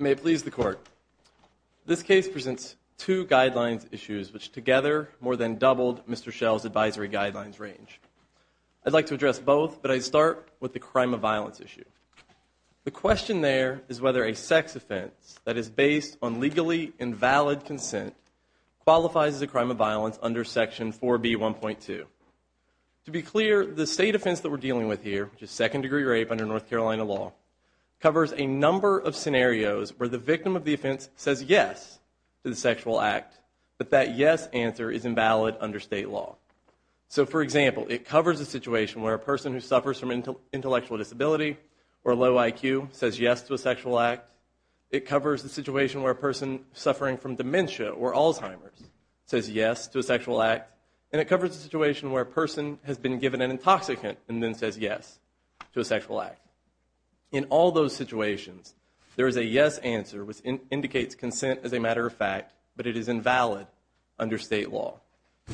May it please the court, this case presents two guidelines issues which together more than doubled Mr. Shell's advisory guidelines range. I'd like to address both, but I'd start with the crime of violence issue. The question there is whether a sex offense that is based on legally invalid consent qualifies as a crime of violence under section 4B1.2. To be clear, the state offense that we're dealing with here, which is second degree rape under North Carolina law, covers a number of scenarios where the victim of the offense says yes to the sexual act, but that yes answer is invalid under state law. So for example, it covers a situation where a person who suffers from intellectual disability or low IQ says yes to a sexual act. It covers a situation where a person suffering from dementia or Alzheimer's says yes to a sexual act. And it covers a situation where a person has been given an intoxicant and then says yes to a sexual act. In all those situations, there is a yes answer which indicates consent as a matter of fact, but it is invalid under state law.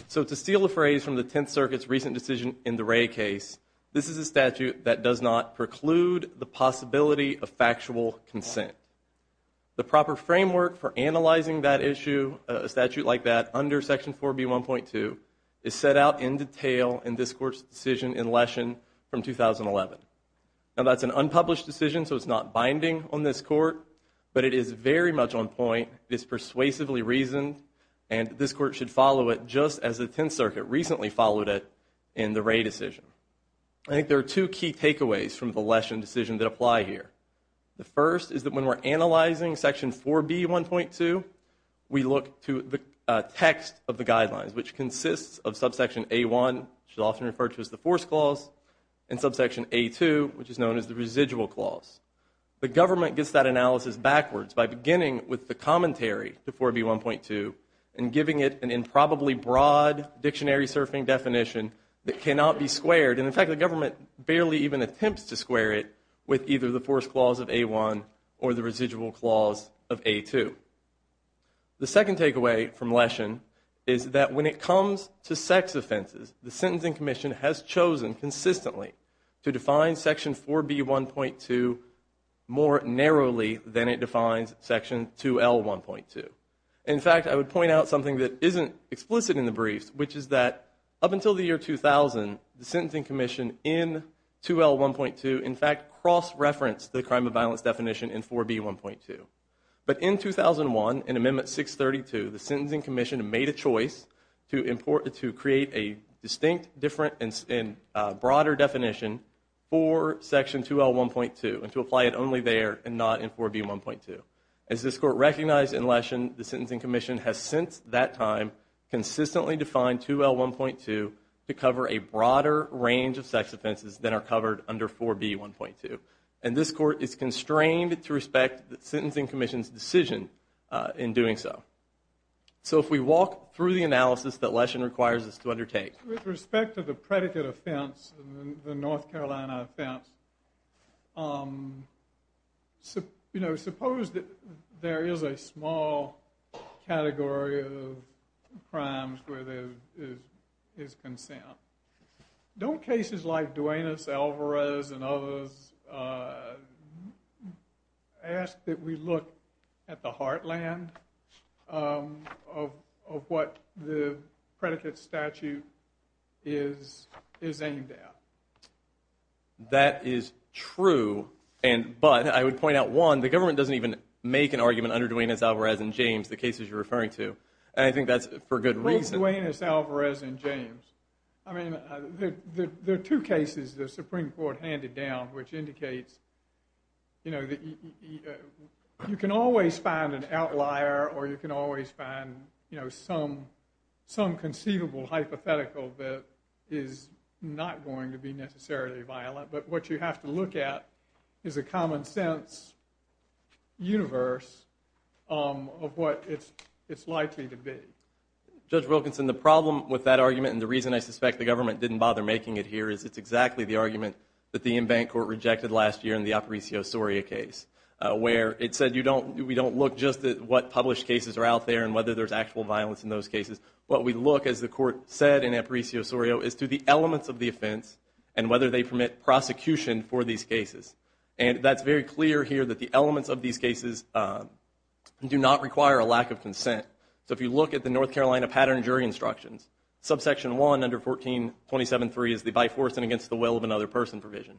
So to steal a phrase from the Tenth Circuit's recent decision in the Wray case, this is a statute that does not preclude the possibility of factual consent. The proper framework for analyzing that issue, a statute like that, under section 4B1.2 is set out in detail in this court's decision in Leshen from 2011. Now that's an unpublished decision, so it's not binding on this court, but it is very much on point. It is persuasively reasoned, and this court should follow it just as the Tenth Circuit recently followed it in the Wray decision. I think there are two key takeaways from the Leshen decision that apply here. The first is that when we're analyzing section 4B1.2, we look to the text of the guidelines, which consists of subsection A1, which is often referred to as the Force Clause, and subsection A2, which is known as the Residual Clause. The government gets that analysis backwards by beginning with the commentary to 4B1.2 and giving it an improbably broad dictionary-surfing definition that cannot be squared. In fact, the government barely even attempts to square it with either the Force Clause of A1 or the Residual Clause of A2. The second takeaway from Leshen is that when it comes to sex offenses, the Sentencing Commission has chosen consistently to define section 4B1.2 more narrowly than it defines section 2L1.2. In fact, I would point out something that isn't explicit in the briefs, which is that up until the year 2000, the Sentencing Commission in 2L1.2, in fact, cross-referenced the crime of violence definition in 4B1.2. But in 2001, in Amendment 632, the Sentencing Commission made a choice to create a distinct, different, and broader definition for section 2L1.2 and to apply it only there and not in 4B1.2. As this Court recognized in Leshen, the Sentencing Commission has since that time consistently defined 2L1.2 to cover a broader range of sex offenses than are covered under 4B1.2. And this Court is constrained to respect the Sentencing Commission's decision in doing so. So if we walk through the analysis that Leshen requires us to undertake. With respect to the predicate offense, the North Carolina offense, suppose that there is a small category of crimes where there is consent. Don't cases like Duenas-Alvarez and others ask that we look at the heartland of what the predicate statute is aimed at? That is true. But I would point out, one, the government doesn't even make an argument under Duenas-Alvarez and James, the cases you're referring to. And I think that's for good reason. Duenas-Alvarez and James. I mean, there are two cases the Supreme Court handed down which indicates, you know, you can always find an outlier or you can always find, you know, some conceivable hypothetical that is not going to be necessarily violent. But what you have to look at is a common sense universe of what it's likely to be. Judge Wilkinson, the problem with that argument, and the reason I suspect the government didn't bother making it here, is it's exactly the argument that the Inbank Court rejected last year in the Aparicio-Sorio case, where it said we don't look just at what published cases are out there and whether there's actual violence in those cases. What we look, as the court said in Aparicio-Sorio, is to the elements of the offense and whether they permit prosecution for these cases. And that's very clear here that the elements of these cases do not require a lack of consent. So if you look at the North Carolina pattern jury instructions, subsection 1 under 1427.3 is the by force and against the will of another person provision.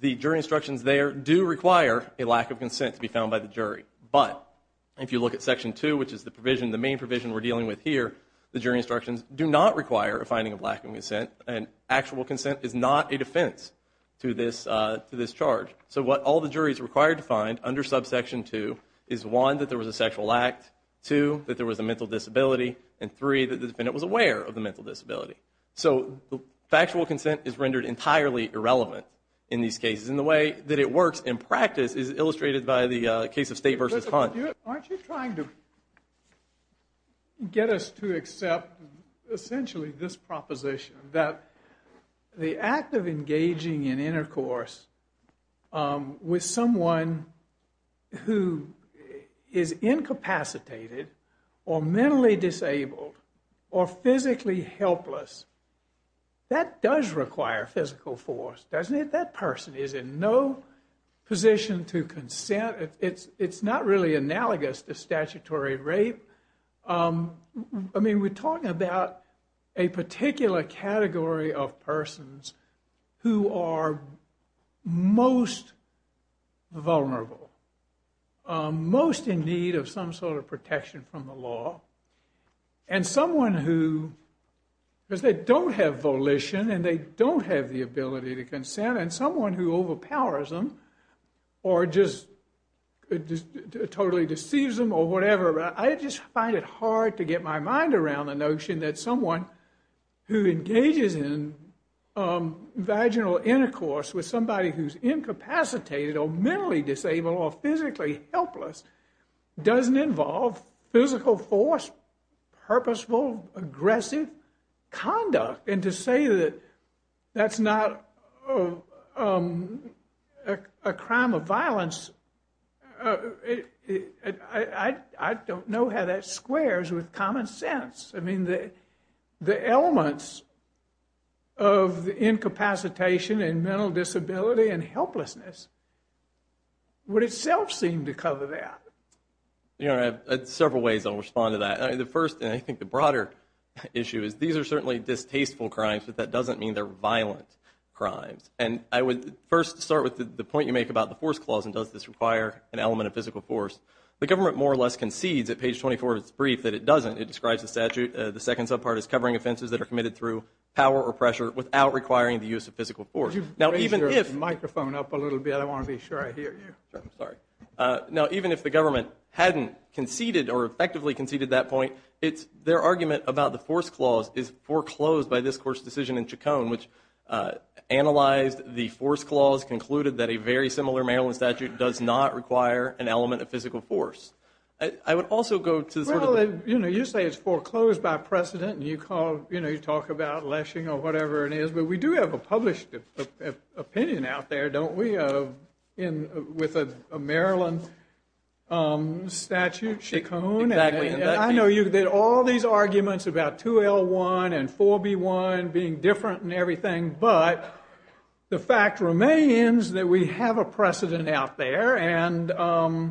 The jury instructions there do require a lack of consent to be found by the jury. But if you look at section 2, which is the provision, the main provision we're dealing with here, the jury instructions do not require a finding of lack of consent, and actual consent is not a defense to this charge. So what all the juries are required to find under subsection 2 is, one, that there was a sexual act, two, that there was a mental disability, and three, that the defendant was aware of the mental disability. So factual consent is rendered entirely irrelevant in these cases. And the way that it works in practice is illustrated by the case of State v. Hunt. Aren't you trying to get us to accept essentially this proposition, that the act of engaging in intercourse with someone who is incapacitated, or mentally disabled, or physically helpless, that does require physical force, doesn't it? That person is in no position to consent. It's not really analogous to statutory rape. I mean, we're talking about a particular category of persons who are most vulnerable, most in need of some sort of protection from the law. And someone who, because they don't have volition, and they don't have the ability to consent, and someone who overpowers them, or just totally deceives them, or whatever, I just find it hard to get my mind around the notion that someone who engages in vaginal intercourse with somebody who's incapacitated, or mentally disabled, or physically helpless, doesn't involve physical force, purposeful, aggressive conduct. And to say that that's not a crime of violence, I don't know how that squares with common sense. I mean, the elements of incapacitation, and mental disability, and helplessness, would itself seem to cover that. Several ways I'll respond to that. The first, and I think the broader issue, is these are certainly distasteful crimes, but that doesn't mean they're violent crimes. And I would first start with the point you make about the force clause, and does this require an element of physical force. The government more or less concedes at page 24 of its brief that it doesn't. It describes the statute. The second subpart is covering offenses that are committed through power or pressure without requiring the use of physical force. You've raised your microphone up a little bit. I want to be sure I hear you. I'm sorry. Now, even if the government hadn't conceded, or effectively conceded that point, their argument about the force clause is foreclosed by this Court's decision in Chacon, which analyzed the force clause, concluded that a very similar Maryland statute does not require an element of physical force. I would also go to sort of the... Well, you say it's foreclosed by precedent, and you talk about lessing or whatever it is, but we do have a published opinion out there, don't we, with a Maryland statute, Chacon? Exactly. I know all these arguments about 2L1 and 4B1 being different and everything, but the fact remains that we have a precedent out there, and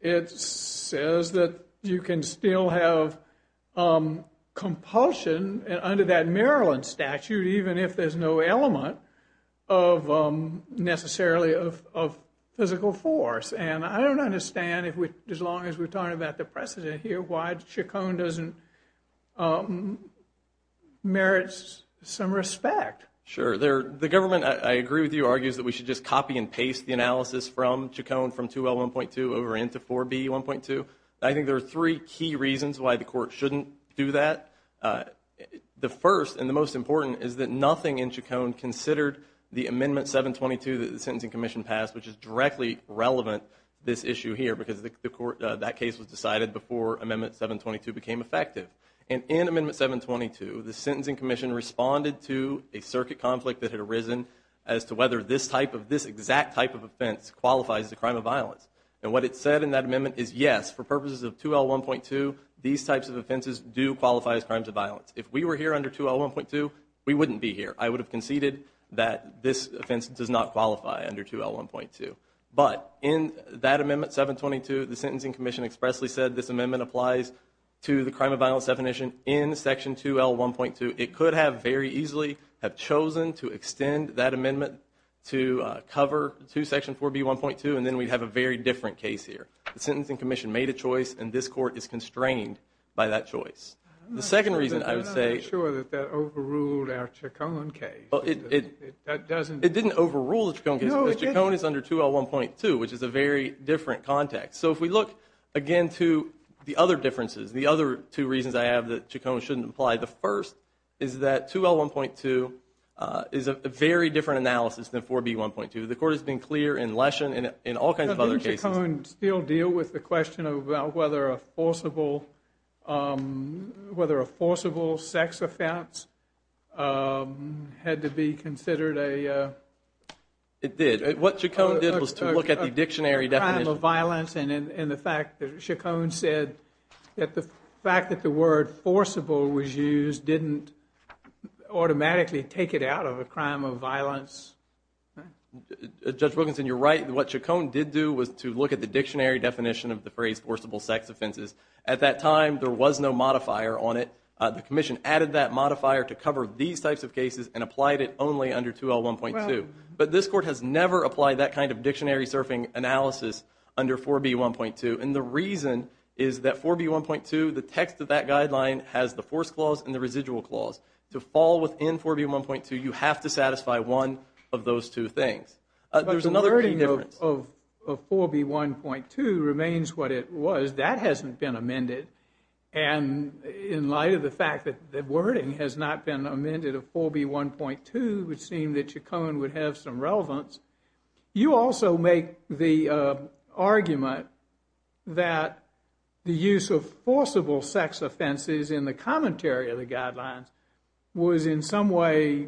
it says that you can still have compulsion under that Maryland statute, even if there's no element necessarily of physical force. And I don't understand, as long as we're talking about the precedent here, why Chacon doesn't merit some respect. Sure. The government, I agree with you, argues that we should just copy and paste the analysis from Chacon from 2L1.2 over into 4B1.2. I think there are three key reasons why the Court shouldn't do that. The first and the most important is that nothing in Chacon considered the Amendment 722 that the Sentencing Commission passed, which is directly relevant to this issue here, because that case was decided before Amendment 722 became effective. And in Amendment 722, the Sentencing Commission responded to a circuit conflict that had arisen as to whether this exact type of offense qualifies as a crime of violence. And what it said in that amendment is, yes, for purposes of 2L1.2, these types of offenses do qualify as crimes of violence. If we were here under 2L1.2, we wouldn't be here. I would have conceded that this offense does not qualify under 2L1.2. But in that Amendment 722, the Sentencing Commission expressly said this amendment applies to the crime of violence definition in Section 2L1.2. It could have very easily have chosen to extend that amendment to cover Section 4B1.2, and then we'd have a very different case here. The Sentencing Commission made a choice, and this Court is constrained by that choice. The second reason I would say— I'm not sure that that overruled our Chacon case. It didn't overrule the Chacon case, because Chacon is under 2L1.2, which is a very different context. So if we look again to the other differences, the other two reasons I have that Chacon shouldn't apply, the first is that 2L1.2 is a very different analysis than 4B1.2. The Court has been clear in Leshen and in all kinds of other cases— Didn't Chacon still deal with the question of whether a forcible sex offense had to be considered a— It did. What Chacon did was to look at the dictionary definition— —a crime of violence and the fact that Chacon said that the fact that the word forcible was used didn't automatically take it out of a crime of violence. Judge Wilkinson, you're right. What Chacon did do was to look at the dictionary definition of the phrase forcible sex offenses. At that time, there was no modifier on it. The Commission added that modifier to cover these types of cases and applied it only under 2L1.2. But this Court has never applied that kind of dictionary-surfing analysis under 4B1.2. And the reason is that 4B1.2, the text of that guideline, has the force clause and the residual clause. To fall within 4B1.2, you have to satisfy one of those two things. But the wording of 4B1.2 remains what it was. That hasn't been amended. And in light of the fact that the wording has not been amended of 4B1.2, it would seem that Chacon would have some relevance. You also make the argument that the use of forcible sex offenses in the commentary of the guidelines was in some way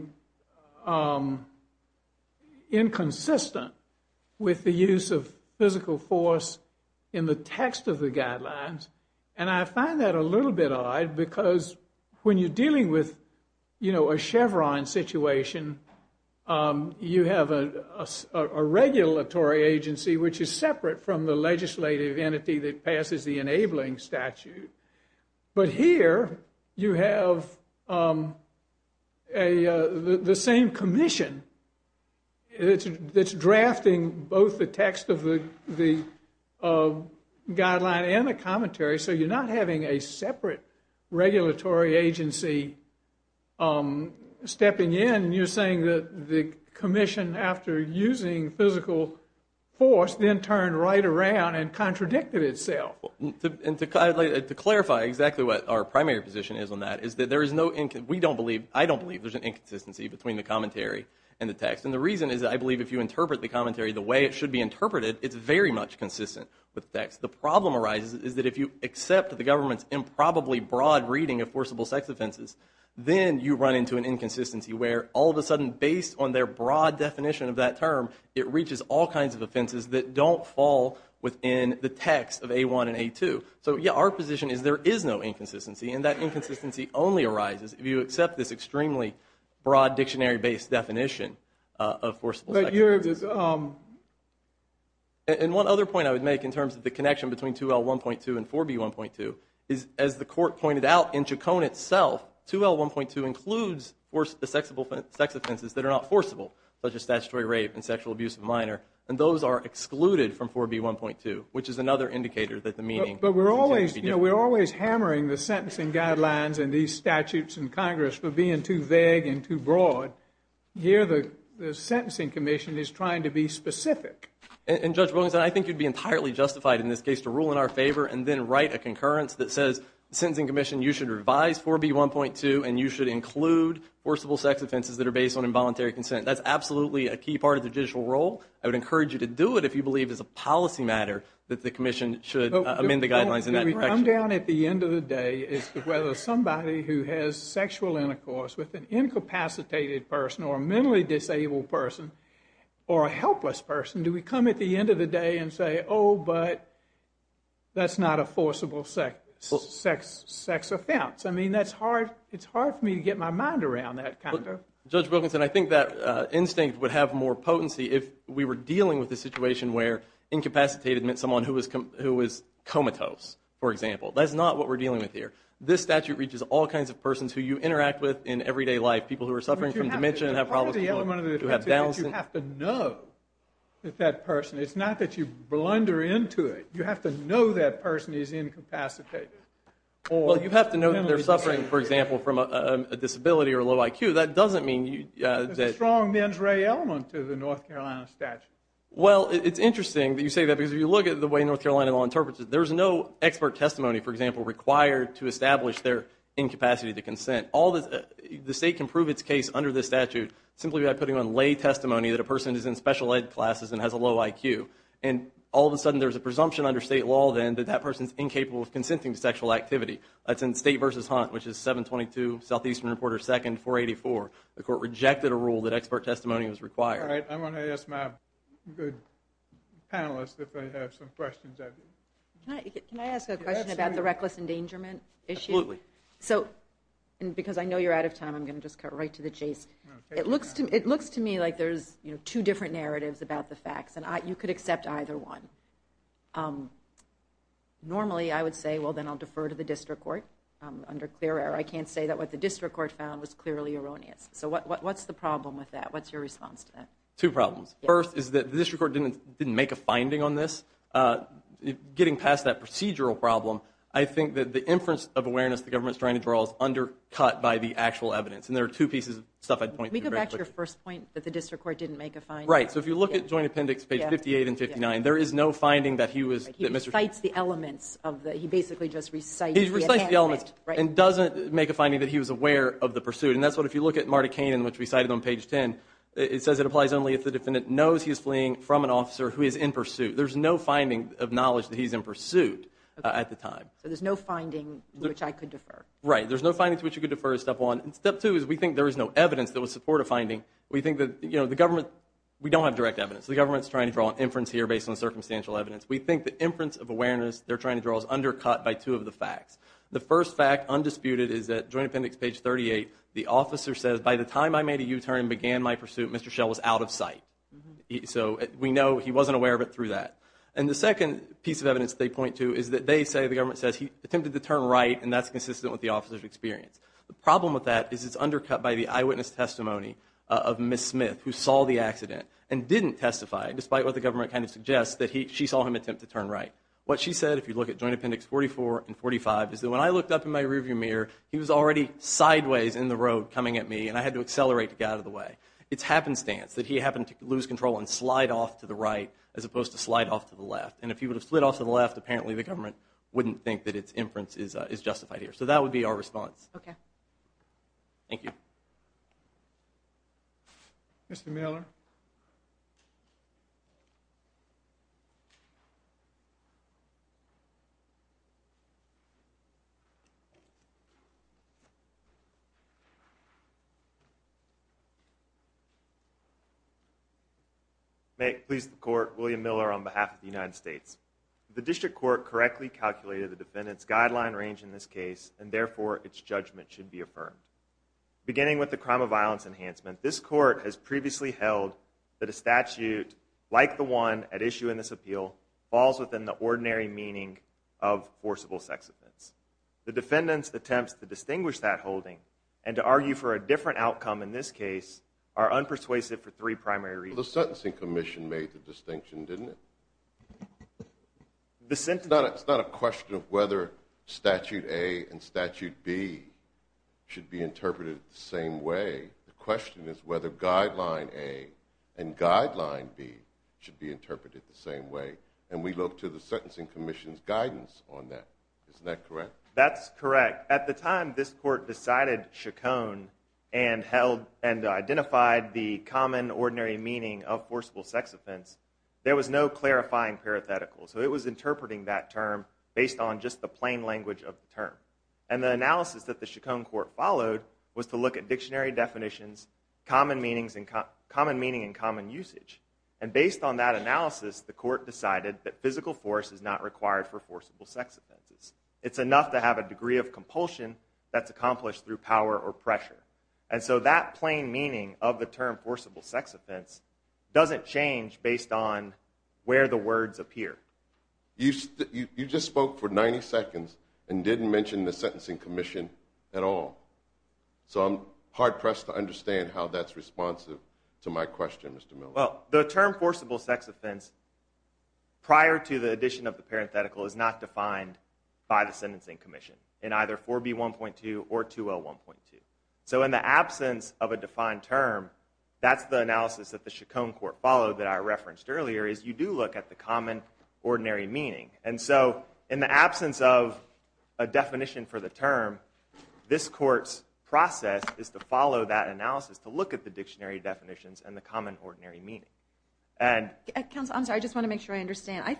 inconsistent with the use of physical force in the text of the guidelines. And I find that a little bit odd because when you're dealing with a Chevron situation, you have a regulatory agency which is separate from the legislative entity that passes the enabling statute. But here, you have the same commission that's drafting both the text of the guideline and the commentary, so you're not having a separate regulatory agency stepping in. You're saying that the commission, after using physical force, then turned right around and contradicted itself. To clarify exactly what our primary position is on that, is that I don't believe there's an inconsistency between the commentary and the text. And the reason is that I believe if you interpret the commentary the way it should be interpreted, it's very much consistent with the text. The problem arises is that if you accept the government's improbably broad reading of forcible sex offenses, then you run into an inconsistency where all of a sudden, based on their broad definition of that term, it reaches all kinds of offenses that don't fall within the text of A1 and A2. So, yeah, our position is there is no inconsistency, and that inconsistency only arises if you accept this extremely broad dictionary-based definition of forcible sex offenses. And one other point I would make in terms of the connection between 2L1.2 and 4B1.2 is, as the Court pointed out in Chacon itself, 2L1.2 includes the sex offenses that are not forcible, such as statutory rape and sexual abuse of a minor, and those are excluded from 4B1.2, which is another indicator that the meaning is going to be different. But we're always hammering the sentencing guidelines and these statutes in Congress for being too vague and too broad. Here, the Sentencing Commission is trying to be specific. And, Judge Wilkinson, I think you'd be entirely justified in this case to rule in our favor and then write a concurrence that says, Sentencing Commission, you should revise 4B1.2 and you should include forcible sex offenses that are based on involuntary consent. That's absolutely a key part of the judicial role. I would encourage you to do it if you believe it's a policy matter that the Commission should amend the guidelines in that direction. The problem we come down at the end of the day is whether somebody who has sexual intercourse with an incapacitated person or a mentally disabled person or a helpless person, do we come at the end of the day and say, oh, but that's not a forcible sex offense? I mean, it's hard for me to get my mind around that kind of thing. Judge Wilkinson, I think that instinct would have more potency if we were dealing with a situation where incapacitated meant someone who was comatose, for example. That's not what we're dealing with here. This statute reaches all kinds of persons who you interact with in everyday life, people who are suffering from dementia and have problems with employment. You have to know that person. It's not that you blunder into it. You have to know that person is incapacitated. Well, you have to know that they're suffering, for example, from a disability or a low IQ. That doesn't mean you – There's a strong mens rea element to the North Carolina statute. Well, it's interesting that you say that because if you look at the way North Carolina law interprets it, there's no expert testimony, for example, required to establish their incapacity to consent. The state can prove its case under this statute simply by putting on lay testimony that a person is in special ed classes and has a low IQ. And all of a sudden there's a presumption under state law then that that person is incapable of consenting to sexual activity. That's in State v. Hunt, which is 722 Southeastern Reporter 2nd 484. The court rejected a rule that expert testimony was required. All right. I'm going to ask my good panelists if they have some questions. Can I ask a question about the reckless endangerment issue? Absolutely. And because I know you're out of time, I'm going to just cut right to the chase. It looks to me like there's two different narratives about the facts, and you could accept either one. Normally I would say, well, then I'll defer to the district court under clear error. I can't say that what the district court found was clearly erroneous. So what's the problem with that? What's your response to that? Two problems. First is that the district court didn't make a finding on this. Getting past that procedural problem, I think that the inference of awareness the government is trying to draw is undercut by the actual evidence. And there are two pieces of stuff I'd point to very quickly. Can we go back to your first point that the district court didn't make a finding? Right. So if you look at Joint Appendix page 58 and 59, there is no finding that he was – He recites the elements of the – he basically just recites the – He recites the elements and doesn't make a finding that he was aware of the pursuit. And that's what – if you look at Marta Kanan, which we cited on page 10, it says it applies only if the defendant knows he is fleeing from an officer who is in pursuit. There's no finding of knowledge that he's in pursuit at the time. So there's no finding to which I could defer. Right. There's no finding to which you could defer is step one. And step two is we think there is no evidence that would support a finding. We think that, you know, the government – we don't have direct evidence. The government is trying to draw an inference here based on circumstantial evidence. We think the inference of awareness they're trying to draw is undercut by two of the facts. The first fact, undisputed, is that Joint Appendix page 38, the officer says, by the time I made a U-turn and began my pursuit, Mr. Schell was out of sight. So we know he wasn't aware of it through that. And the second piece of evidence they point to is that they say the government says he attempted to turn right, and that's consistent with the officer's experience. The problem with that is it's undercut by the eyewitness testimony of Ms. Smith, who saw the accident and didn't testify, despite what the government kind of suggests, that she saw him attempt to turn right. What she said, if you look at Joint Appendix 44 and 45, is that when I looked up in my rearview mirror, he was already sideways in the road coming at me, and I had to accelerate to get out of the way. It's happenstance that he happened to lose control and slide off to the right as opposed to slide off to the left. And if he would have slid off to the left, apparently the government wouldn't think that its inference is justified here. So that would be our response. Okay. Thank you. Mr. Miller. May it please the Court, William Miller on behalf of the United States. The District Court correctly calculated the defendant's guideline range in this case, and therefore its judgment should be affirmed. Beginning with the crime of violence enhancement, this Court has previously held that a statute, like the one at issue in this appeal, falls within the ordinary meaning of forcible sex offense. The defendant's attempts to distinguish that holding and to argue for a different outcome in this case are unpersuasive for three primary reasons. The Sentencing Commission made the distinction, didn't it? It's not a question of whether Statute A and Statute B should be interpreted the same way. The question is whether Guideline A and Guideline B should be interpreted the same way, and we look to the Sentencing Commission's guidance on that. Isn't that correct? That's correct. At the time this Court decided, chaconned, and held and identified the common ordinary meaning of forcible sex offense, there was no clarifying parenthetical, so it was interpreting that term based on just the plain language of the term. And the analysis that the Chaconne Court followed was to look at dictionary definitions, common meaning and common usage. And based on that analysis, the Court decided that physical force is not required for forcible sex offenses. It's enough to have a degree of compulsion that's accomplished through power or pressure. And so that plain meaning of the term forcible sex offense doesn't change based on where the words appear. You just spoke for 90 seconds and didn't mention the Sentencing Commission at all. So I'm hard pressed to understand how that's responsive to my question, Mr. Miller. Well, the term forcible sex offense, prior to the addition of the parenthetical, is not defined by the Sentencing Commission in either 4B1.2 or 2L1.2. So in the absence of a defined term, that's the analysis that the Chaconne Court followed that I referenced earlier, is you do look at the common ordinary meaning. And so in the absence of a definition for the term, this Court's process is to follow that analysis, to look at the dictionary definitions and the common ordinary meaning. Counsel, I'm sorry, I just want to make sure I understand.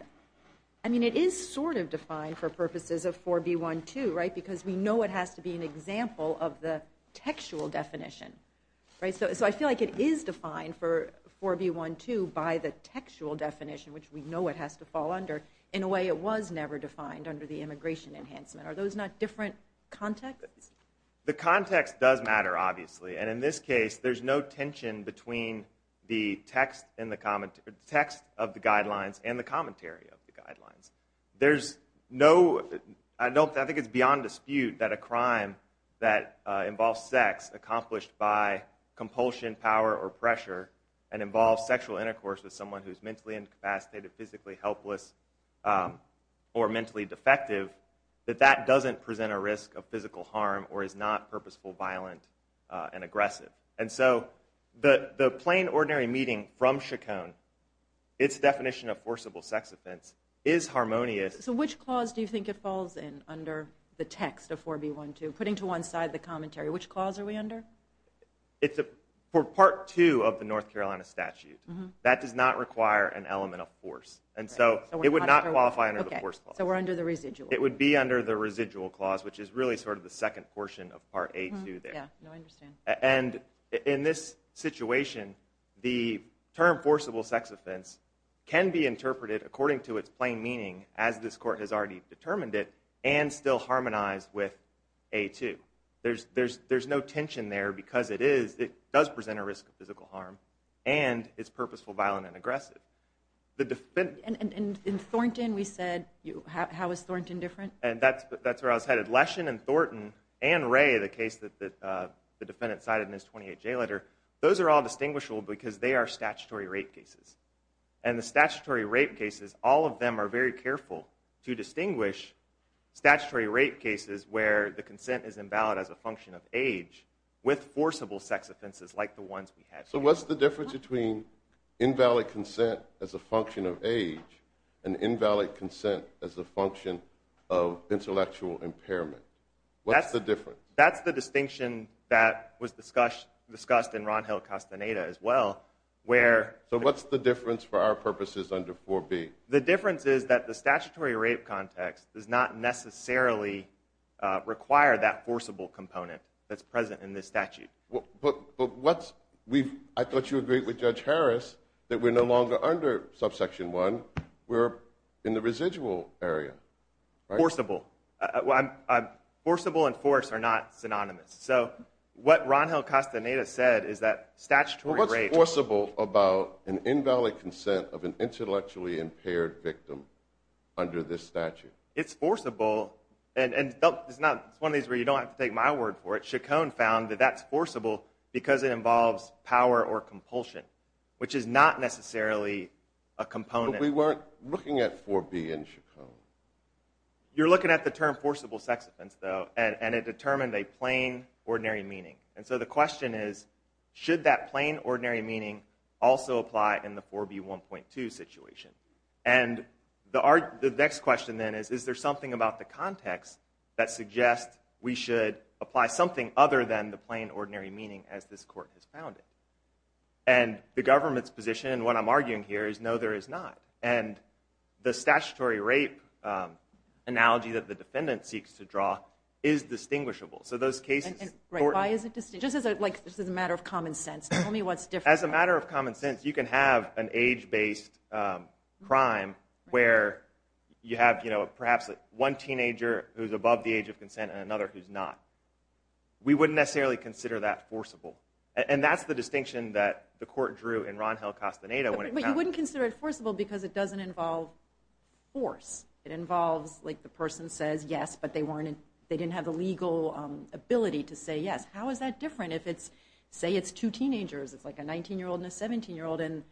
I mean, it is sort of defined for purposes of 4B1.2, right? Because we know it has to be an example of the textual definition, right? So I feel like it is defined for 4B1.2 by the textual definition, which we know it has to fall under. In a way, it was never defined under the immigration enhancement. Are those not different contexts? The context does matter, obviously. And in this case, there's no tension between the text of the guidelines and the commentary of the guidelines. I think it's beyond dispute that a crime that involves sex accomplished by compulsion, power, or pressure, and involves sexual intercourse with someone who is mentally incapacitated, physically helpless, or mentally defective, that that doesn't present a risk of physical harm or is not purposeful, violent, and aggressive. And so the plain ordinary meaning from Chaconne, its definition of forcible sex offense, is harmonious. So which clause do you think it falls in under the text of 4B1.2, putting to one side the commentary? Which clause are we under? For part two of the North Carolina statute, that does not require an element of force. And so it would not qualify under the force clause. So we're under the residual. It would be under the residual clause, which is really sort of the second portion of part A.2 there. And in this situation, the term forcible sex offense can be interpreted according to its plain meaning, as this court has already determined it, and still harmonized with A.2. There's no tension there because it does present a risk of physical harm and is purposeful, violent, and aggressive. And in Thornton, we said, how is Thornton different? And that's where I was headed. Leshen and Thornton and Ray, the case that the defendant cited in his 28-J letter, those are all distinguishable because they are statutory rape cases. And the statutory rape cases, all of them are very careful to distinguish statutory rape cases where the consent is invalid as a function of age with forcible sex offenses like the ones we have here. So what's the difference between invalid consent as a function of age and invalid consent as a function of intellectual impairment? What's the difference? That's the distinction that was discussed in Ron Hill Castaneda as well. So what's the difference for our purposes under 4B? The difference is that the statutory rape context does not necessarily require that forcible component that's present in this statute. But I thought you agreed with Judge Harris that we're no longer under Subsection 1. We're in the residual area, right? Forcible. Forcible and forced are not synonymous. So what Ron Hill Castaneda said is that statutory rape- Well, what's forcible about an invalid consent of an intellectually impaired victim under this statute? It's forcible. And it's one of these where you don't have to take my word for it. That's forcible because it involves power or compulsion, which is not necessarily a component- But we weren't looking at 4B in Chaconne. You're looking at the term forcible sex offense, though, and it determined a plain, ordinary meaning. And so the question is, should that plain, ordinary meaning also apply in the 4B1.2 situation? And the next question then is, is there something about the context that suggests we should apply something other than the plain, ordinary meaning as this court has found it? And the government's position, and what I'm arguing here, is no, there is not. And the statutory rape analogy that the defendant seeks to draw is distinguishable. So those cases- Why is it distinguishable? Just as a matter of common sense. Tell me what's different. As a matter of common sense, you can have an age-based crime where you have perhaps one teenager who's above the age of consent and another who's not. We wouldn't necessarily consider that forcible. And that's the distinction that the court drew in Ron Hill-Castaneda when it- But you wouldn't consider it forcible because it doesn't involve force. It involves, like, the person says yes, but they didn't have the legal ability to say yes. How is that different if it's- say it's two teenagers. It's like a 19-year-old and a 17-year-old, and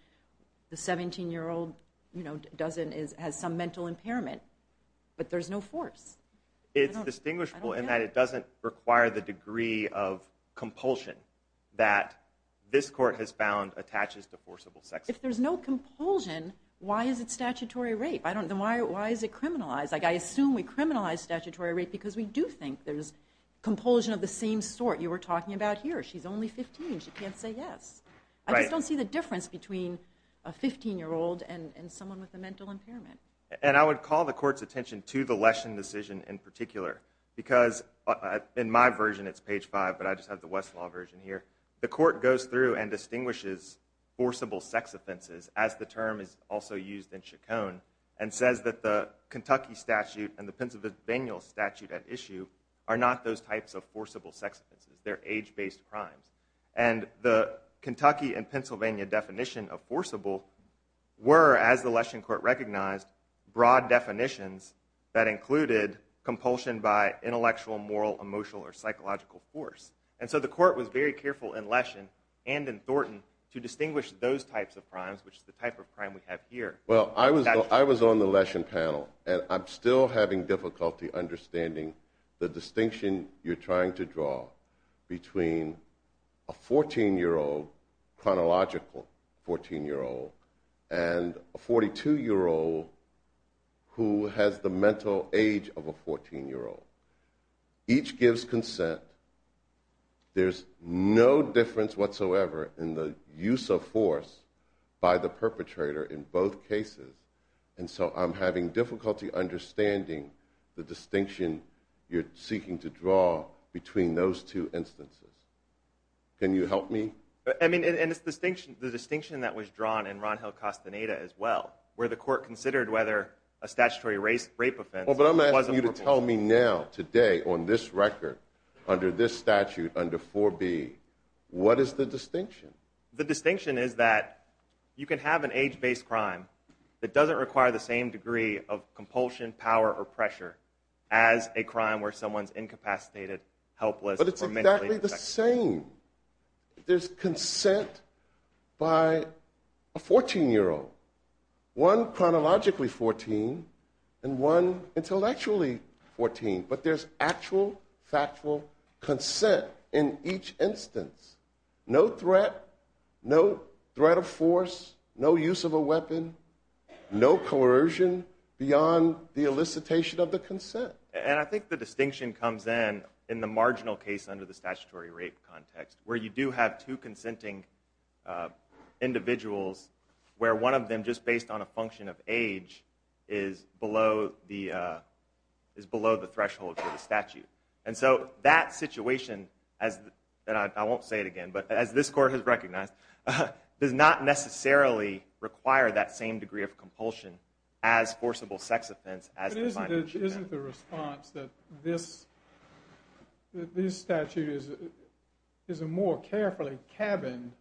the 17-year-old doesn't- has some mental impairment. But there's no force. It's distinguishable in that it doesn't require the degree of compulsion that this court has found attaches to forcible sex. If there's no compulsion, why is it statutory rape? Why is it criminalized? I assume we criminalize statutory rape because we do think there's compulsion of the same sort. You were talking about here. She's only 15. She can't say yes. I just don't see the difference between a 15-year-old and someone with a mental impairment. And I would call the court's attention to the Leshen decision in particular because in my version, it's page 5, but I just have the Westlaw version here. The court goes through and distinguishes forcible sex offenses, as the term is also used in Chacon, and says that the Kentucky statute and the Pennsylvania statute at issue are not those types of forcible sex offenses. They're age-based crimes. And the Kentucky and Pennsylvania definition of forcible were, as the Leshen court recognized, broad definitions that included compulsion by intellectual, moral, emotional, or psychological force. And so the court was very careful in Leshen and in Thornton to distinguish those types of crimes, which is the type of crime we have here. Well, I was on the Leshen panel, and I'm still having difficulty understanding the distinction you're trying to draw between a 14-year-old, chronological 14-year-old, and a 42-year-old who has the mental age of a 14-year-old. Each gives consent. There's no difference whatsoever in the use of force by the perpetrator in both cases, and so I'm having difficulty understanding the distinction you're seeking to draw between those two instances. Can you help me? I mean, and it's the distinction that was drawn in Ron Hill-Costaneda as well, Well, but I'm asking you to tell me now, today, on this record, under this statute, under 4B, what is the distinction? The distinction is that you can have an age-based crime that doesn't require the same degree of compulsion, power, or pressure as a crime where someone's incapacitated, helpless, or mentally defective. But it's exactly the same. There's consent by a 14-year-old, one chronologically 14, and one intellectually 14, but there's actual, factual consent in each instance. No threat, no threat of force, no use of a weapon, no coercion beyond the elicitation of the consent. And I think the distinction comes in, in the marginal case under the statutory rape context, where you do have two consenting individuals, where one of them, just based on a function of age, is below the threshold for the statute. And so, that situation, and I won't say it again, but as this Court has recognized, does not necessarily require that same degree of compulsion as forcible sex offense as defined in the statute. It isn't the response that this statute is a more carefully cabined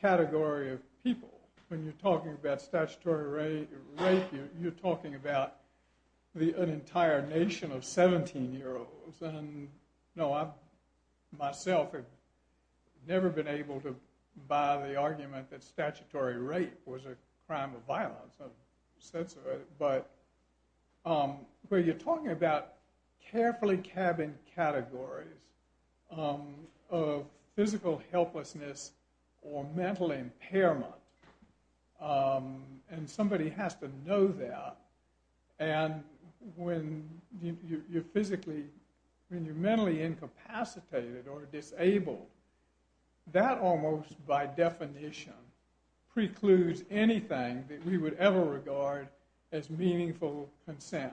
category of people. When you're talking about statutory rape, you're talking about an entire nation of 17-year-olds. And, no, I myself have never been able to buy the argument that statutory rape was a crime of violence. But, where you're talking about carefully cabined categories of physical helplessness or mental impairment, and somebody has to know that, and when you're physically, when you're mentally incapacitated or disabled, that almost, by definition, precludes anything that we would ever regard as meaningful consent.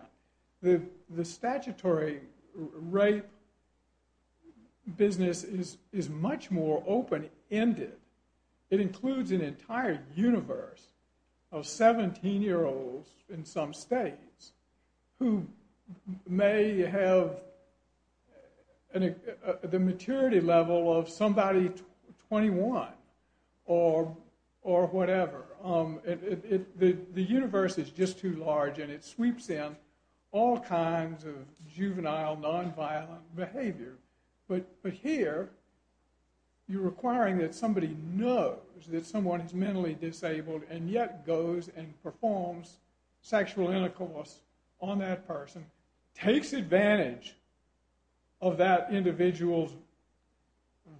The statutory rape business is much more open-ended. It includes an entire universe of 17-year-olds in some states who may have the maturity level of somebody 21 or whatever. The universe is just too large and it sweeps in all kinds of juvenile, non-violent behavior. But here, you're requiring that somebody knows that someone is mentally disabled and yet goes and performs sexual intercourse on that person, takes advantage of that individual's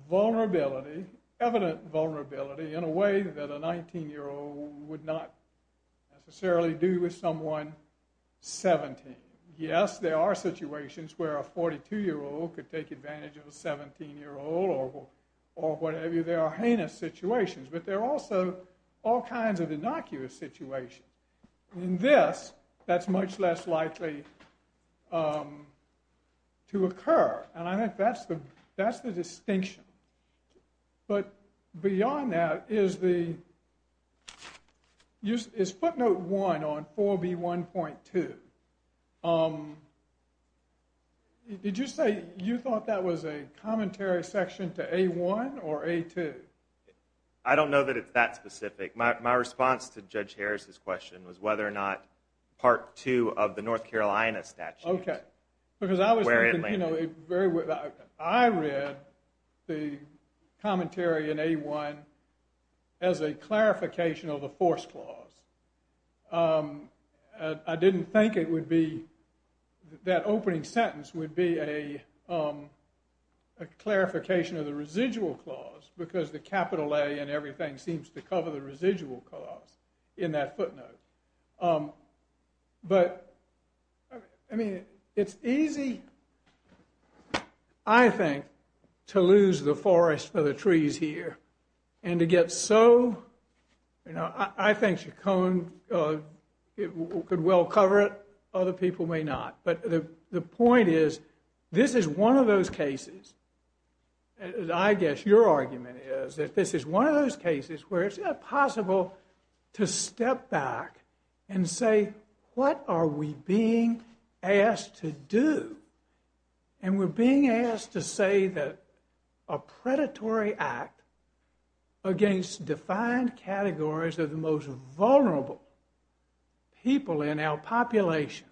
vulnerability, evident vulnerability, in a way that a 19-year-old would not necessarily do with someone 17. Yes, there are situations where a 42-year-old could take advantage of a 17-year-old or whatever. Maybe there are heinous situations, but there are also all kinds of innocuous situations. In this, that's much less likely to occur, and I think that's the distinction. But beyond that, is footnote 1 on 4B1.2, did you say you thought that was a commentary section to A1 or A2? I don't know that it's that specific. My response to Judge Harris' question was whether or not Part 2 of the North Carolina statute. Okay, because I read the commentary in A1 as a clarification of the force clause. I didn't think it would be, that opening sentence would be a clarification of the residual clause because the capital A and everything seems to cover the residual clause in that footnote. But, I mean, it's easy, I think, to lose the forest for the trees here and to get so, you know, I think Chaconne could well cover it, other people may not. But the point is, this is one of those cases, I guess your argument is, that this is one of those cases where it's impossible to step back and say, what are we being asked to do? And we're being asked to say that a predatory act against defined categories of the most vulnerable people in our population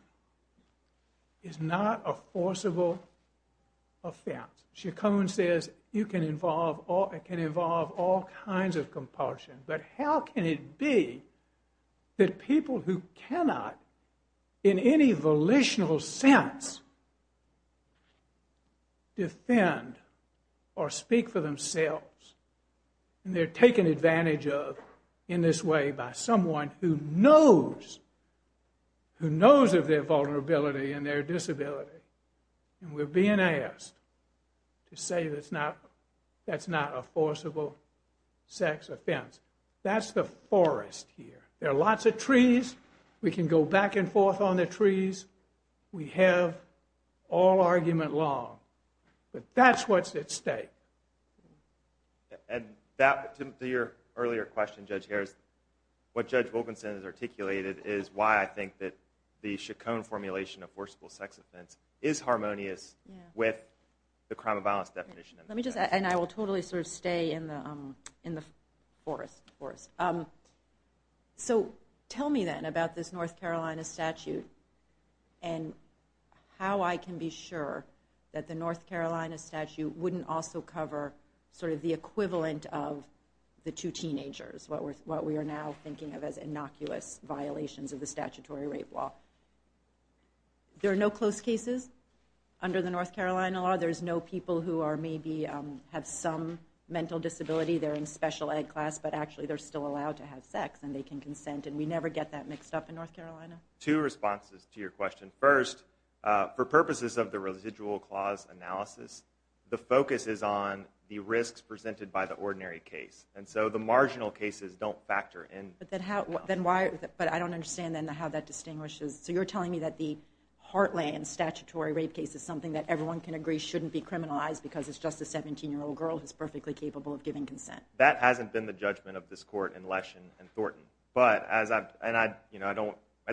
is not a forcible offense. Chaconne says it can involve all kinds of compulsion, but how can it be that people who cannot in any volitional sense defend or speak for themselves and they're taken advantage of in this way by someone who knows, who knows of their vulnerability and their disability and we're being asked to say that's not a forcible sex offense. That's the forest here. There are lots of trees, we can go back and forth on the trees, we have all argument long, but that's what's at stake. To your earlier question, Judge Harris, what Judge Wilkinson has articulated is why I think that the Chaconne formulation of forcible sex offense is harmonious with the crime of violence definition. And I will totally stay in the forest. So tell me then about this North Carolina statute and how I can be sure that the North Carolina statute wouldn't also cover the equivalent of the two teenagers, what we are now thinking of as innocuous violations of the statutory rape law. There are no close cases under the North Carolina law. There's no people who maybe have some mental disability, they're in special ed class, but actually they're still allowed to have sex and they can consent and we never get that mixed up in North Carolina. Two responses to your question. First, for purposes of the residual clause analysis, the focus is on the risks presented by the ordinary case. And so the marginal cases don't factor in. But I don't understand then how that distinguishes. So you're telling me that the Hartley and statutory rape case is something that everyone can agree shouldn't be criminalized because it's just a 17-year-old girl who's perfectly capable of giving consent. That hasn't been the judgment of this court in Leshen and Thornton. But at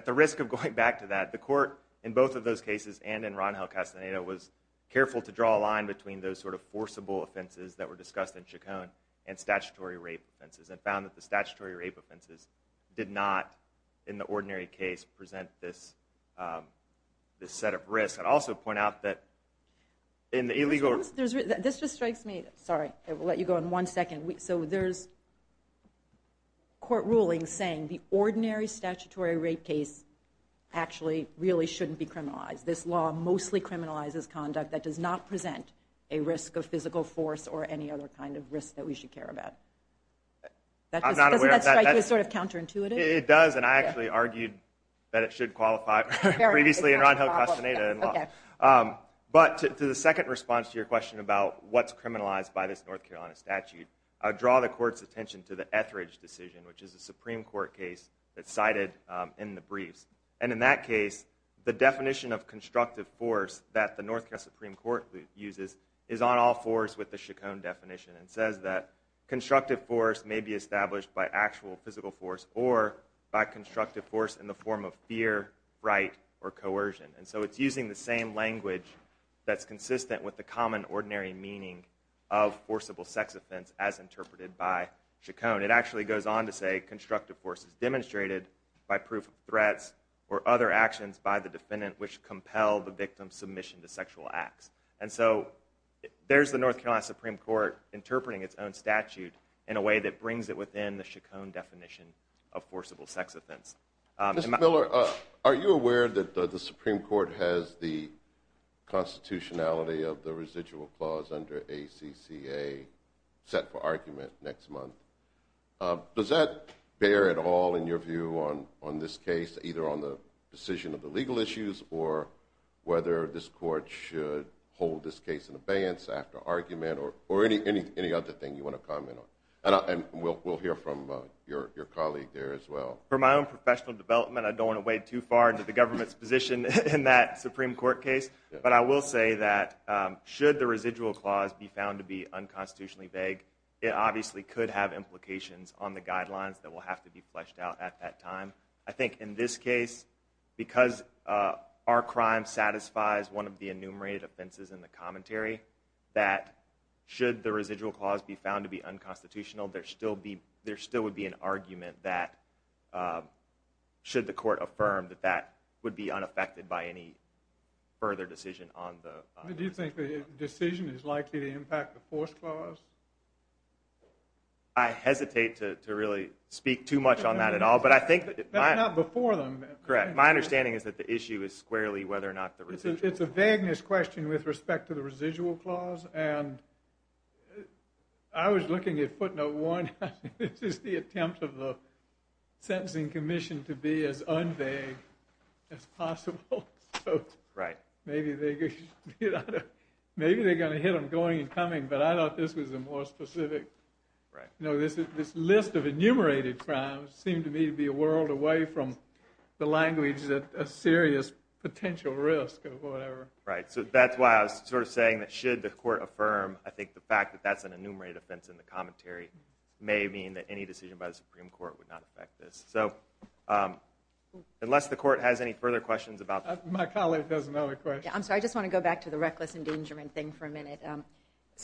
the risk of going back to that, the court in both of those cases and in Ron Hill Castaneda was careful to draw a line between those sort of forcible offenses that were discussed in Chaconne and statutory rape offenses and found that the statutory rape offenses did not, in the ordinary case, present this set of risks. I'd also point out that in the illegal... This just strikes me. Sorry, I will let you go in one second. So there's court rulings saying the ordinary statutory rape case actually really shouldn't be criminalized. This law mostly criminalizes conduct that does not present a risk of physical force or any other kind of risk that we should care about. Doesn't that strike you as sort of counterintuitive? It does, and I actually argued that it should qualify previously in Ron Hill Castaneda in law. But to the second response to your question about what's criminalized by this North Carolina statute, I would draw the court's attention to the Etheridge decision, which is a Supreme Court case that's cited in the briefs. And in that case, the definition of constructive force that the North Carolina Supreme Court uses is on all fours with the Chaconne definition. It says that constructive force may be established by actual physical force or by constructive force in the form of fear, right, or coercion. And so it's using the same language that's consistent with the common ordinary meaning of forcible sex offense as interpreted by Chaconne. It actually goes on to say constructive force is demonstrated by proof of threats or other actions by the defendant which compel the victim's submission to sexual acts. And so there's the North Carolina Supreme Court interpreting its own statute in a way that brings it within the Chaconne definition of forcible sex offense. Mr. Miller, are you aware that the Supreme Court has the constitutionality of the residual clause under ACCA set for argument next month? Does that bear at all in your view on this case, either on the decision of the legal issues or whether this court should hold this case in abeyance after argument or any other thing you want to comment on? And we'll hear from your colleague there as well. For my own professional development, I don't want to wade too far into the government's position in that Supreme Court case, but I will say that should the residual clause be found to be unconstitutionally vague, it obviously could have implications on the guidelines that will have to be fleshed out at that time. I think in this case, because our crime satisfies one of the enumerated offenses in the commentary, that should the residual clause be found to be unconstitutional, there still would be an argument that should the court affirm that that would be unaffected by any further decision on the... Do you think the decision is likely to impact the force clause? I hesitate to really speak too much on that at all, but I think... That's not before them. Correct. My understanding is that the issue is squarely whether or not the residual... It's a vagueness question with respect to the residual clause, and I was looking at footnote one. This is the attempt of the sentencing commission to be as unvague as possible, so maybe they're going to hit them going and coming, but I thought this was a more specific... It seemed to me to be a world away from the language that a serious potential risk of whatever... Right, so that's why I was sort of saying that should the court affirm, I think the fact that that's an enumerated offense in the commentary may mean that any decision by the Supreme Court would not affect this. Unless the court has any further questions about... My colleague has another question. I'm sorry, I just want to go back to the reckless endangerment thing for a minute.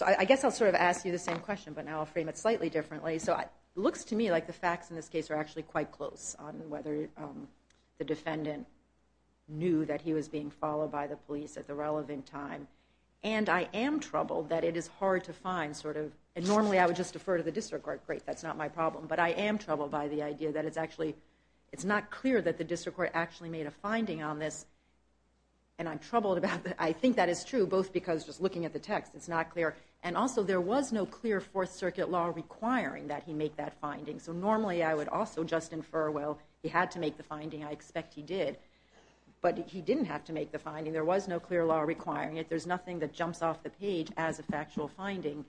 I guess I'll sort of ask you the same question, but now I'll frame it slightly differently. So it looks to me like the facts in this case are actually quite close on whether the defendant knew that he was being followed by the police at the relevant time, and I am troubled that it is hard to find sort of... And normally I would just defer to the district court. Great, that's not my problem. But I am troubled by the idea that it's actually... It's not clear that the district court actually made a finding on this, and I'm troubled about that. I think that is true, both because just looking at the text, it's not clear, and also there was no clear Fourth Circuit law requiring that he make that finding. So normally I would also just infer, well, he had to make the finding. I expect he did. But he didn't have to make the finding. There was no clear law requiring it. There's nothing that jumps off the page as a factual finding.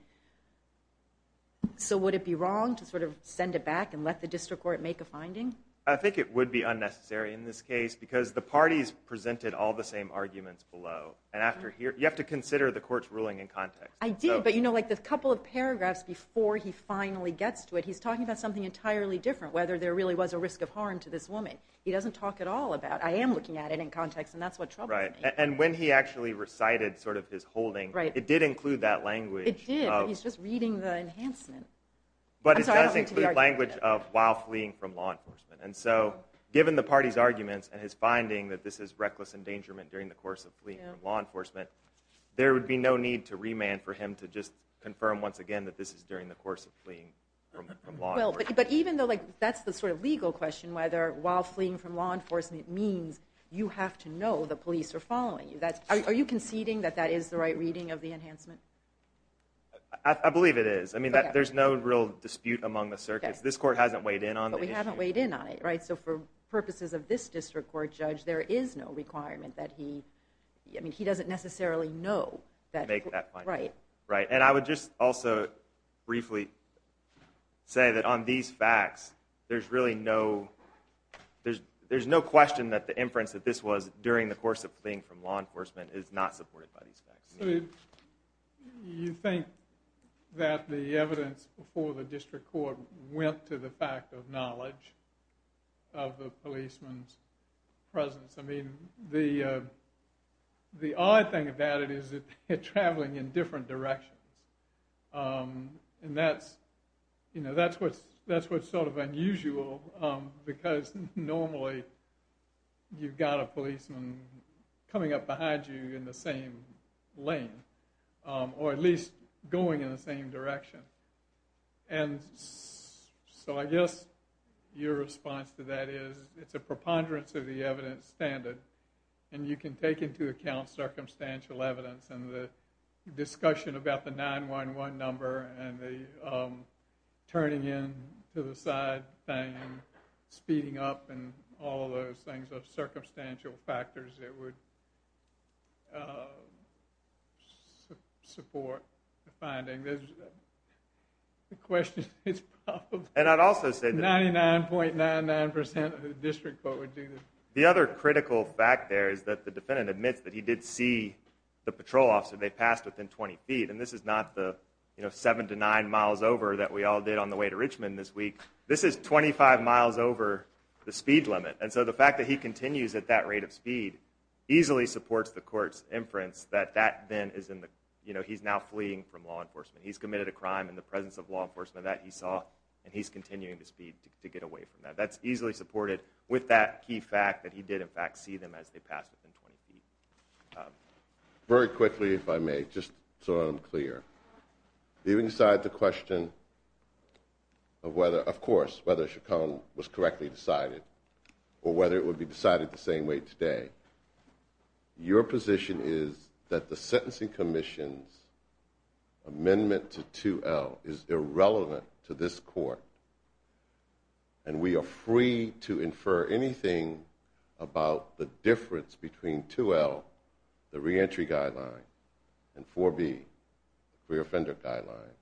So would it be wrong to sort of send it back and let the district court make a finding? I think it would be unnecessary in this case because the parties presented all the same arguments below. You have to consider the court's ruling in context. I did, but you know, like the couple of paragraphs before he finally gets to it, he's talking about something entirely different, whether there really was a risk of harm to this woman. He doesn't talk at all about, I am looking at it in context, and that's what troubles me. Right, and when he actually recited sort of his holding, it did include that language of... It did, but he's just reading the enhancement. I'm sorry, I don't mean to be argumentative. But it does include language of while fleeing from law enforcement. And so given the party's arguments and his finding that this is reckless endangerment during the course of fleeing from law enforcement, there would be no need to remand for him to just confirm once again that this is during the course of fleeing from law enforcement. But even though that's the sort of legal question, whether while fleeing from law enforcement means you have to know the police are following you. Are you conceding that that is the right reading of the enhancement? I believe it is. I mean, there's no real dispute among the circuits. This court hasn't weighed in on the issue. But we haven't weighed in on it, right? So for purposes of this district court judge, there is no requirement that he... necessarily know that... Right. And I would just also briefly say that on these facts, there's really no... There's no question that the inference that this was during the course of fleeing from law enforcement is not supported by these facts. So you think that the evidence before the district court went to the fact of knowledge of the policeman's presence? I mean, the odd thing about it is that they're traveling in different directions. And that's what's sort of unusual because normally you've got a policeman coming up behind you in the same lane or at least going in the same direction. And so I guess your response to that is it's a preponderance of the evidence standard. And you can take into account circumstantial evidence and the discussion about the 911 number and the turning in to the side thing and speeding up and all of those things are circumstantial factors that would support the finding. The question is... And I'd also say that... The other critical fact there is that the defendant admits that he did see the patrol officer. They passed within 20 feet. And this is not the 7 to 9 miles over that we all did on the way to Richmond this week. This is 25 miles over the speed limit. And so the fact that he continues at that rate of speed easily supports the court's inference that he's now fleeing from law enforcement. He's committed a crime in the presence of law enforcement. That he saw. And he's continuing to speed to get away from that. That's easily supported with that key fact that he did, in fact, see them as they passed within 20 feet. Very quickly, if I may, just so I'm clear. Even inside the question of whether... Of course, whether Chaconne was correctly decided or whether it would be decided the same way today. Your position is that the sentencing commission's amendment to 2L is irrelevant to this court and we are free to infer anything about the difference between 2L, the reentry guideline, and 4B, the career offender guideline.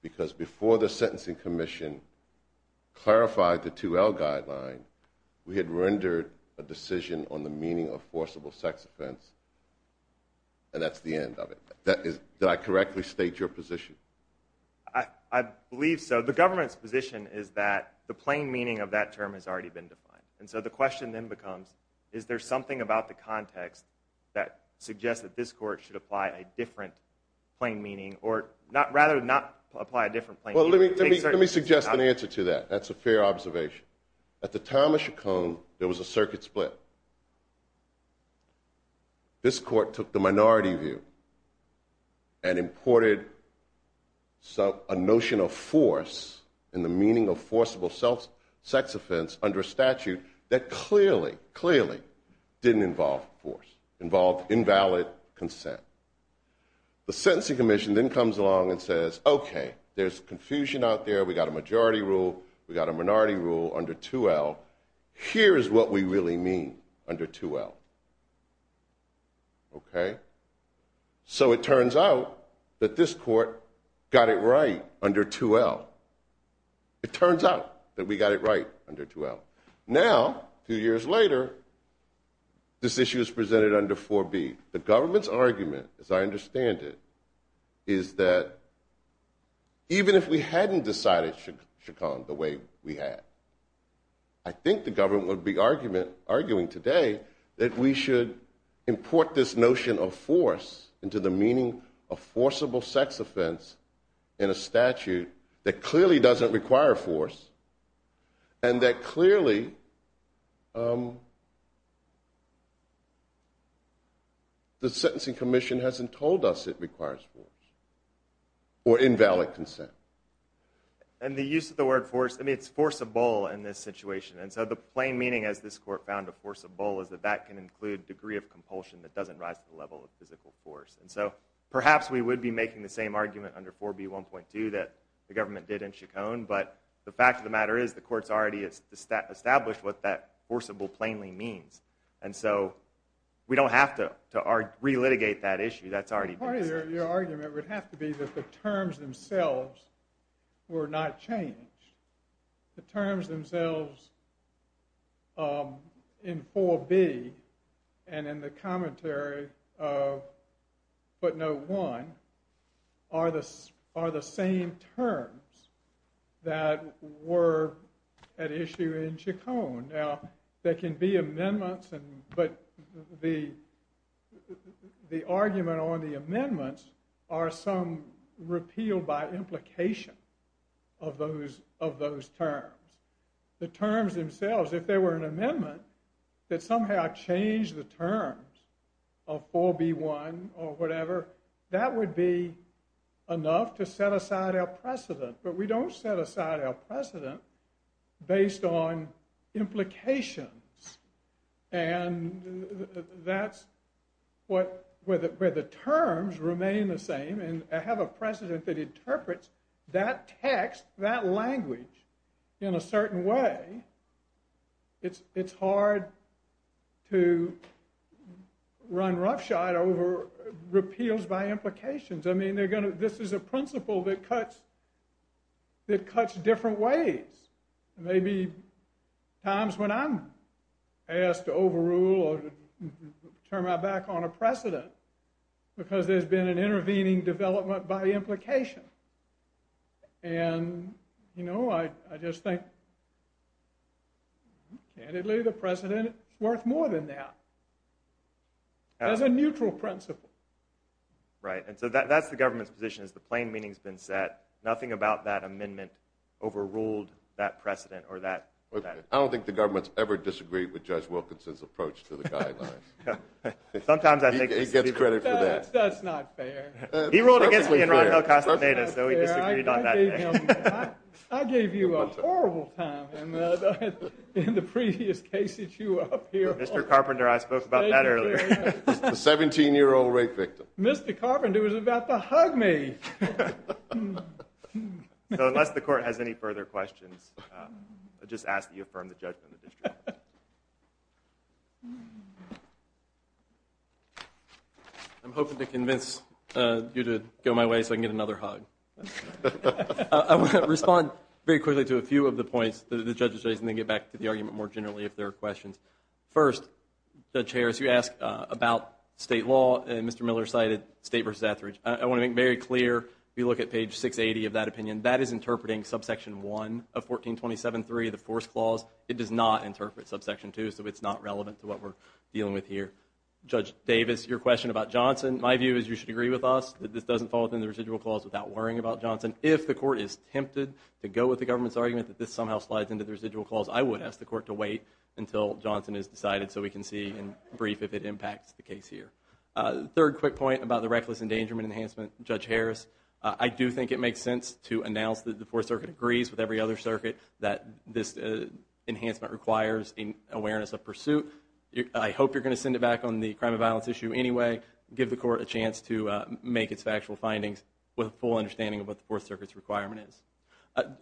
Because before the sentencing commission clarified the 2L guideline, we had rendered a decision on the meaning of forcible sex offense, and that's the end of it. Did I correctly state your position? I believe so. The government's position is that the plain meaning of that term has already been defined. And so the question then becomes, is there something about the context that suggests that this court should apply a different plain meaning, or rather not apply a different plain meaning? Well, let me suggest an answer to that. That's a fair observation. At the time of Chaconne, there was a circuit split. This court took the minority view and imported a notion of force in the meaning of forcible sex offense under statute that clearly, clearly didn't involve force, involved invalid consent. The sentencing commission then comes along and says, okay, there's confusion out there. We got a majority rule. We got a minority rule under 2L. Here is what we really mean under 2L. Okay? So it turns out that this court got it right under 2L. It turns out that we got it right under 2L. Now, two years later, this issue is presented under 4B. The government's argument, as I understand it, is that even if we hadn't decided Chaconne the way we had, I think the government would be arguing today that we should import this notion of force into the meaning of forcible sex offense in a statute that clearly doesn't require force and that clearly the sentencing commission hasn't told us it requires force or invalid consent. And the use of the word force, I mean, it's forcible in this situation. And so the plain meaning, as this court found, of forcible is that that can include a degree of compulsion that doesn't rise to the level of physical force. And so perhaps we would be making the same argument under 4B.1.2 that the government did in Chaconne, but the fact of the matter is the court's already established what that forcible plainly means. And so we don't have to relitigate that issue. That's already been said. Part of your argument would have to be that the terms themselves were not changed. The terms themselves in 4B and in the commentary of footnote 1 are the same terms that were at issue in Chaconne. Now, there can be amendments, but the argument on the amendments are some repeal by implication of those terms. The terms themselves, if there were an amendment that somehow changed the terms of 4B.1 or whatever, that would be enough to set aside our precedent. But we don't set aside our precedent based on implications. And that's where the terms remain the same and have a precedent that interprets that text, that language in a certain way. It's hard to run roughshod over repeals by implications. I mean, this is a principle that cuts different ways. Maybe times when I'm asked to overrule or turn my back on a precedent because there's been an intervening development by implication. And, you know, I just think candidly the precedent is worth more than that as a neutral principle. Right, and so that's the government's position is the plain meaning's been set, nothing about that amendment overruled that precedent or that... I don't think the government's ever disagreed with Judge Wilkinson's approach to the guidelines. Sometimes I think... He gets credit for that. That's not fair. He ruled against me in Ron Hill-Castaneda, so he disagreed on that. I gave you a horrible time in the previous case that you were up here on. Mr. Carpenter, I spoke about that earlier. The 17-year-old rape victim. Mr. Carpenter was about to hug me. So unless the court has any further questions, I just ask that you affirm the judgment of the district. I'm hoping to convince you to go my way so I can get another hug. I want to respond very quickly to a few of the points that the judge has raised, and then get back to the argument more generally if there are questions. First, Judge Harris, you asked about state law, and Mr. Miller cited State v. Etheridge. I want to make very clear, if you look at page 680 of that opinion, that is interpreting subsection 1 of 1427-3, the force clause. It does not interpret subsection 2, so it's not relevant to what we're dealing with here. Judge Davis, your question about Johnson. My view is you should agree with us that this doesn't fall within the residual clause without worrying about Johnson. If the court is tempted to go with the government's argument that this somehow slides into the residual clause, I would ask the court to wait until Johnson is decided so we can see in brief if it impacts the case here. Third quick point about the reckless endangerment enhancement, Judge Harris. I do think it makes sense to announce that the Fourth Circuit agrees with every other circuit that this enhancement requires an awareness of pursuit. I hope you're going to send it back on the crime of violence issue anyway, give the court a chance to make its factual findings with a full understanding of what the Fourth Circuit's requirement is.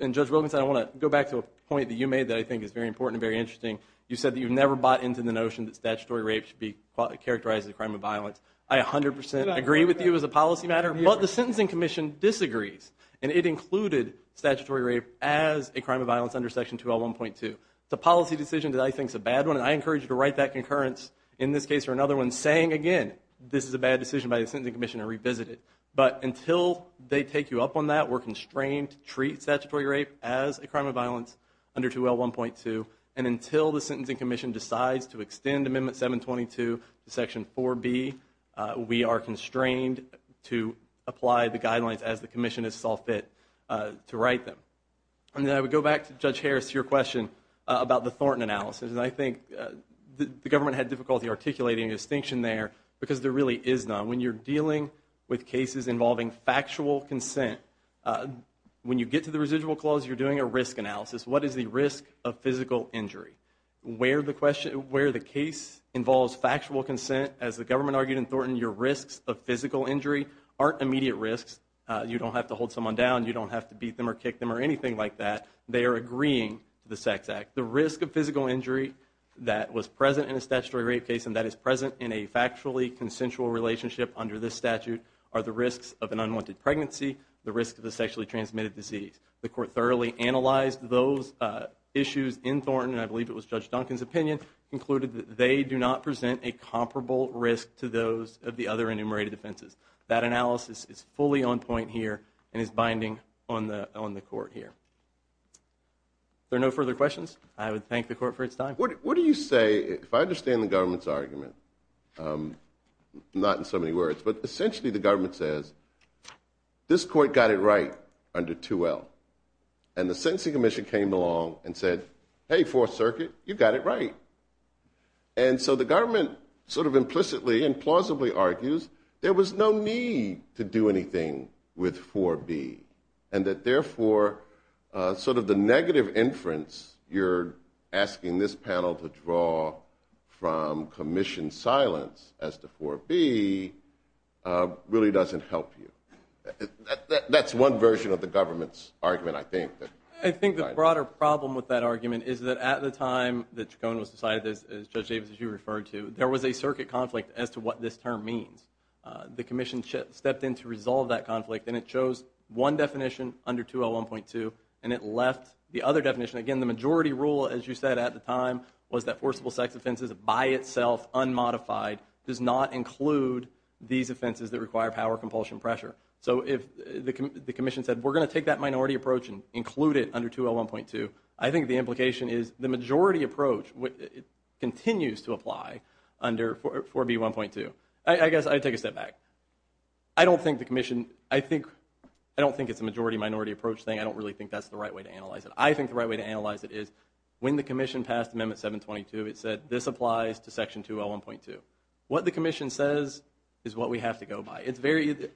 And Judge Wilkinson, I want to go back to a point that you made that I think is very important and very interesting. You said that you've never bought into the notion that statutory rape should be characterized as a crime of violence. I 100% agree with you as a policy matter, but the Sentencing Commission disagrees, and it included statutory rape as a crime of violence under Section 2L1.2. It's a policy decision that I think is a bad one, and I encourage you to write that concurrence, in this case or another one, saying again, this is a bad decision by the Sentencing Commission and revisit it. But until they take you up on that, we're constrained to treat statutory rape as a crime of violence under 2L1.2, and until the Sentencing Commission decides to extend Amendment 722 to Section 4B, we are constrained to apply the guidelines as the Commission has saw fit to write them. And then I would go back to Judge Harris, to your question about the Thornton analysis, and I think the government had difficulty articulating a distinction there, because there really is none. When you're dealing with cases involving factual consent, when you get to the residual clause, you're doing a risk analysis. What is the risk of physical injury? Where the case involves factual consent, as the government argued in Thornton, your risks of physical injury aren't immediate risks. You don't have to hold someone down. You don't have to beat them or kick them or anything like that. They are agreeing to the Sex Act. The risk of physical injury that was present in a statutory rape case and that is present in a factually consensual relationship under this statute are the risks of an unwanted pregnancy, the risk of a sexually transmitted disease. The Court thoroughly analyzed those issues in Thornton, and I believe it was Judge Duncan's opinion, concluded that they do not present a comparable risk to those of the other enumerated offenses. That analysis is fully on point here and is binding on the Court here. If there are no further questions, I would thank the Court for its time. What do you say, if I understand the government's argument, not in so many words, but essentially the government says, this Court got it right under 2L, and the sentencing commission came along and said, hey, Fourth Circuit, you got it right. And so the government sort of implicitly and plausibly argues there was no need to do anything with 4B, and that therefore sort of the negative inference you're asking this panel to draw from commission silence as to 4B really doesn't help you. That's one version of the government's argument, I think. I think the broader problem with that argument is that at the time that Tracon was decided, as Judge Davis, as you referred to, there was a circuit conflict as to what this term means. The commission stepped in to resolve that conflict, and it chose one definition under 2L1.2, and it left the other definition. Again, the majority rule, as you said at the time, was that forcible sex offenses by itself, unmodified, does not include these offenses that require power, compulsion, pressure. So if the commission said, we're going to take that minority approach and include it under 2L1.2, I think the implication is the majority approach continues to apply under 4B1.2. I guess I'd take a step back. I don't think the commission... I don't think it's a majority-minority approach thing. I don't really think that's the right way to analyze it. I think the right way to analyze it is when the commission passed Amendment 722, it said this applies to Section 2L1.2. What the commission says is what we have to go by.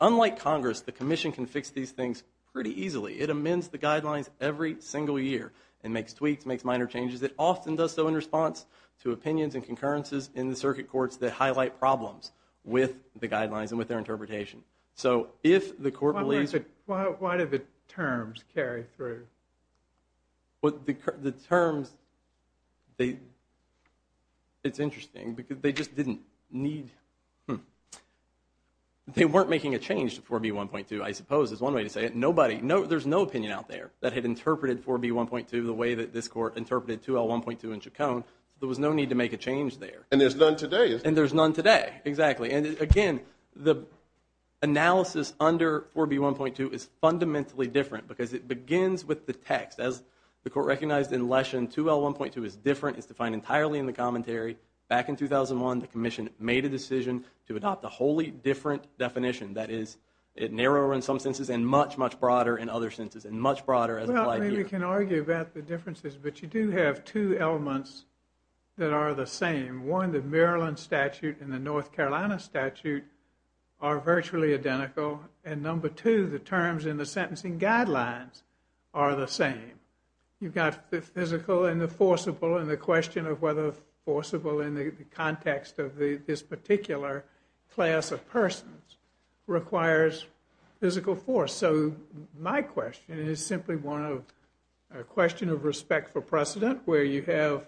Unlike Congress, the commission can fix these things pretty easily. It amends the guidelines every single year and makes tweaks, makes minor changes. It often does so in response to opinions and concurrences in the circuit courts that highlight problems with the guidelines and with their interpretation. So if the court believes... Why do the terms carry through? The terms, they... It's interesting because they just didn't need... Hmm. They weren't making a change to 4B1.2, I suppose, is one way to say it. There's no opinion out there that had interpreted 4B1.2 the way that this court interpreted 2L1.2 in Chacon. There was no need to make a change there. And there's none today. And there's none today, exactly. And again, the analysis under 4B1.2 is fundamentally different because it begins with the text. As the court recognized in Leshen, 2L1.2 is different. It's defined entirely in the commentary. Back in 2001, the commission made a decision to adopt a wholly different definition. That is, it narrowed in some senses and much, much broader in other senses, and much broader as applied here. Well, I mean, you can argue about the differences, but you do have two elements that are the same. One, the Maryland statute and the North Carolina statute are virtually identical. And number two, the terms in the sentencing guidelines are the same. You've got the physical and the forcible and the question of whether forcible in the context of this particular class of persons requires physical force. So my question is simply one of a question of respect for precedent, where you have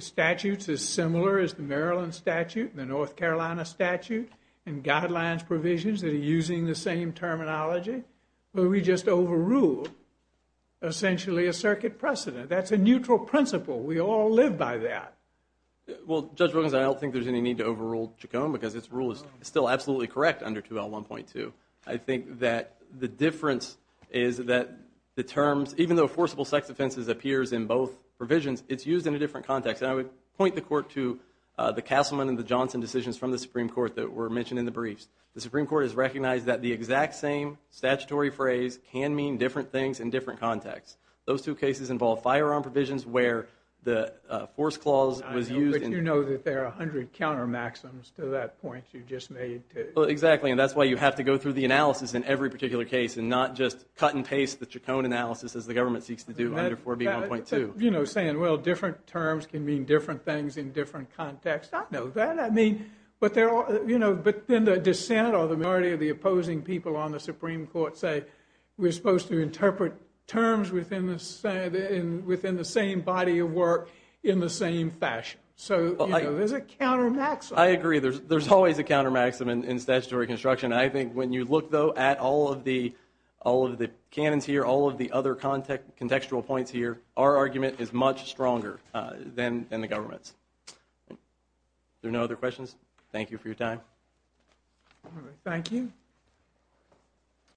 statutes as similar as the Maryland statute and the North Carolina statute and guidelines provisions that are using the same terminology, where we just overrule, essentially, a circuit precedent. That's a neutral principle. We all live by that. Well, Judge Wilkins, I don't think there's any need to overrule Chaconne, because its rule is still absolutely correct under 2L1.2. I think that the difference is that the terms, even though forcible sex offenses appears in both provisions, it's used in a different context. And I would point the court to the Castleman and the Johnson decisions from the Supreme Court that were mentioned in the briefs. The Supreme Court has recognized that the exact same statutory phrase can mean different things in different contexts. Those two cases involve firearm provisions where the force clause was used. I know, but you know that there are 100 counter-maxims to that point you just made. Well, exactly. And that's why you have to go through the analysis in every particular case and not just cut and paste the Chaconne analysis, as the government seeks to do under 4B1.2. You know, saying, well, different terms can mean different things in different contexts. I know that. I mean, but then the dissent or the majority of the opposing people on the Supreme Court say we're supposed to interpret terms within the same body of work in the same fashion. So, you know, there's a counter-maxim. I agree. There's always a counter-maxim in statutory construction. I think when you look, though, at all of the canons here, all of the other contextual points here, our argument is much stronger than the government's. Are there no other questions? Thank you for your time. All right, thank you.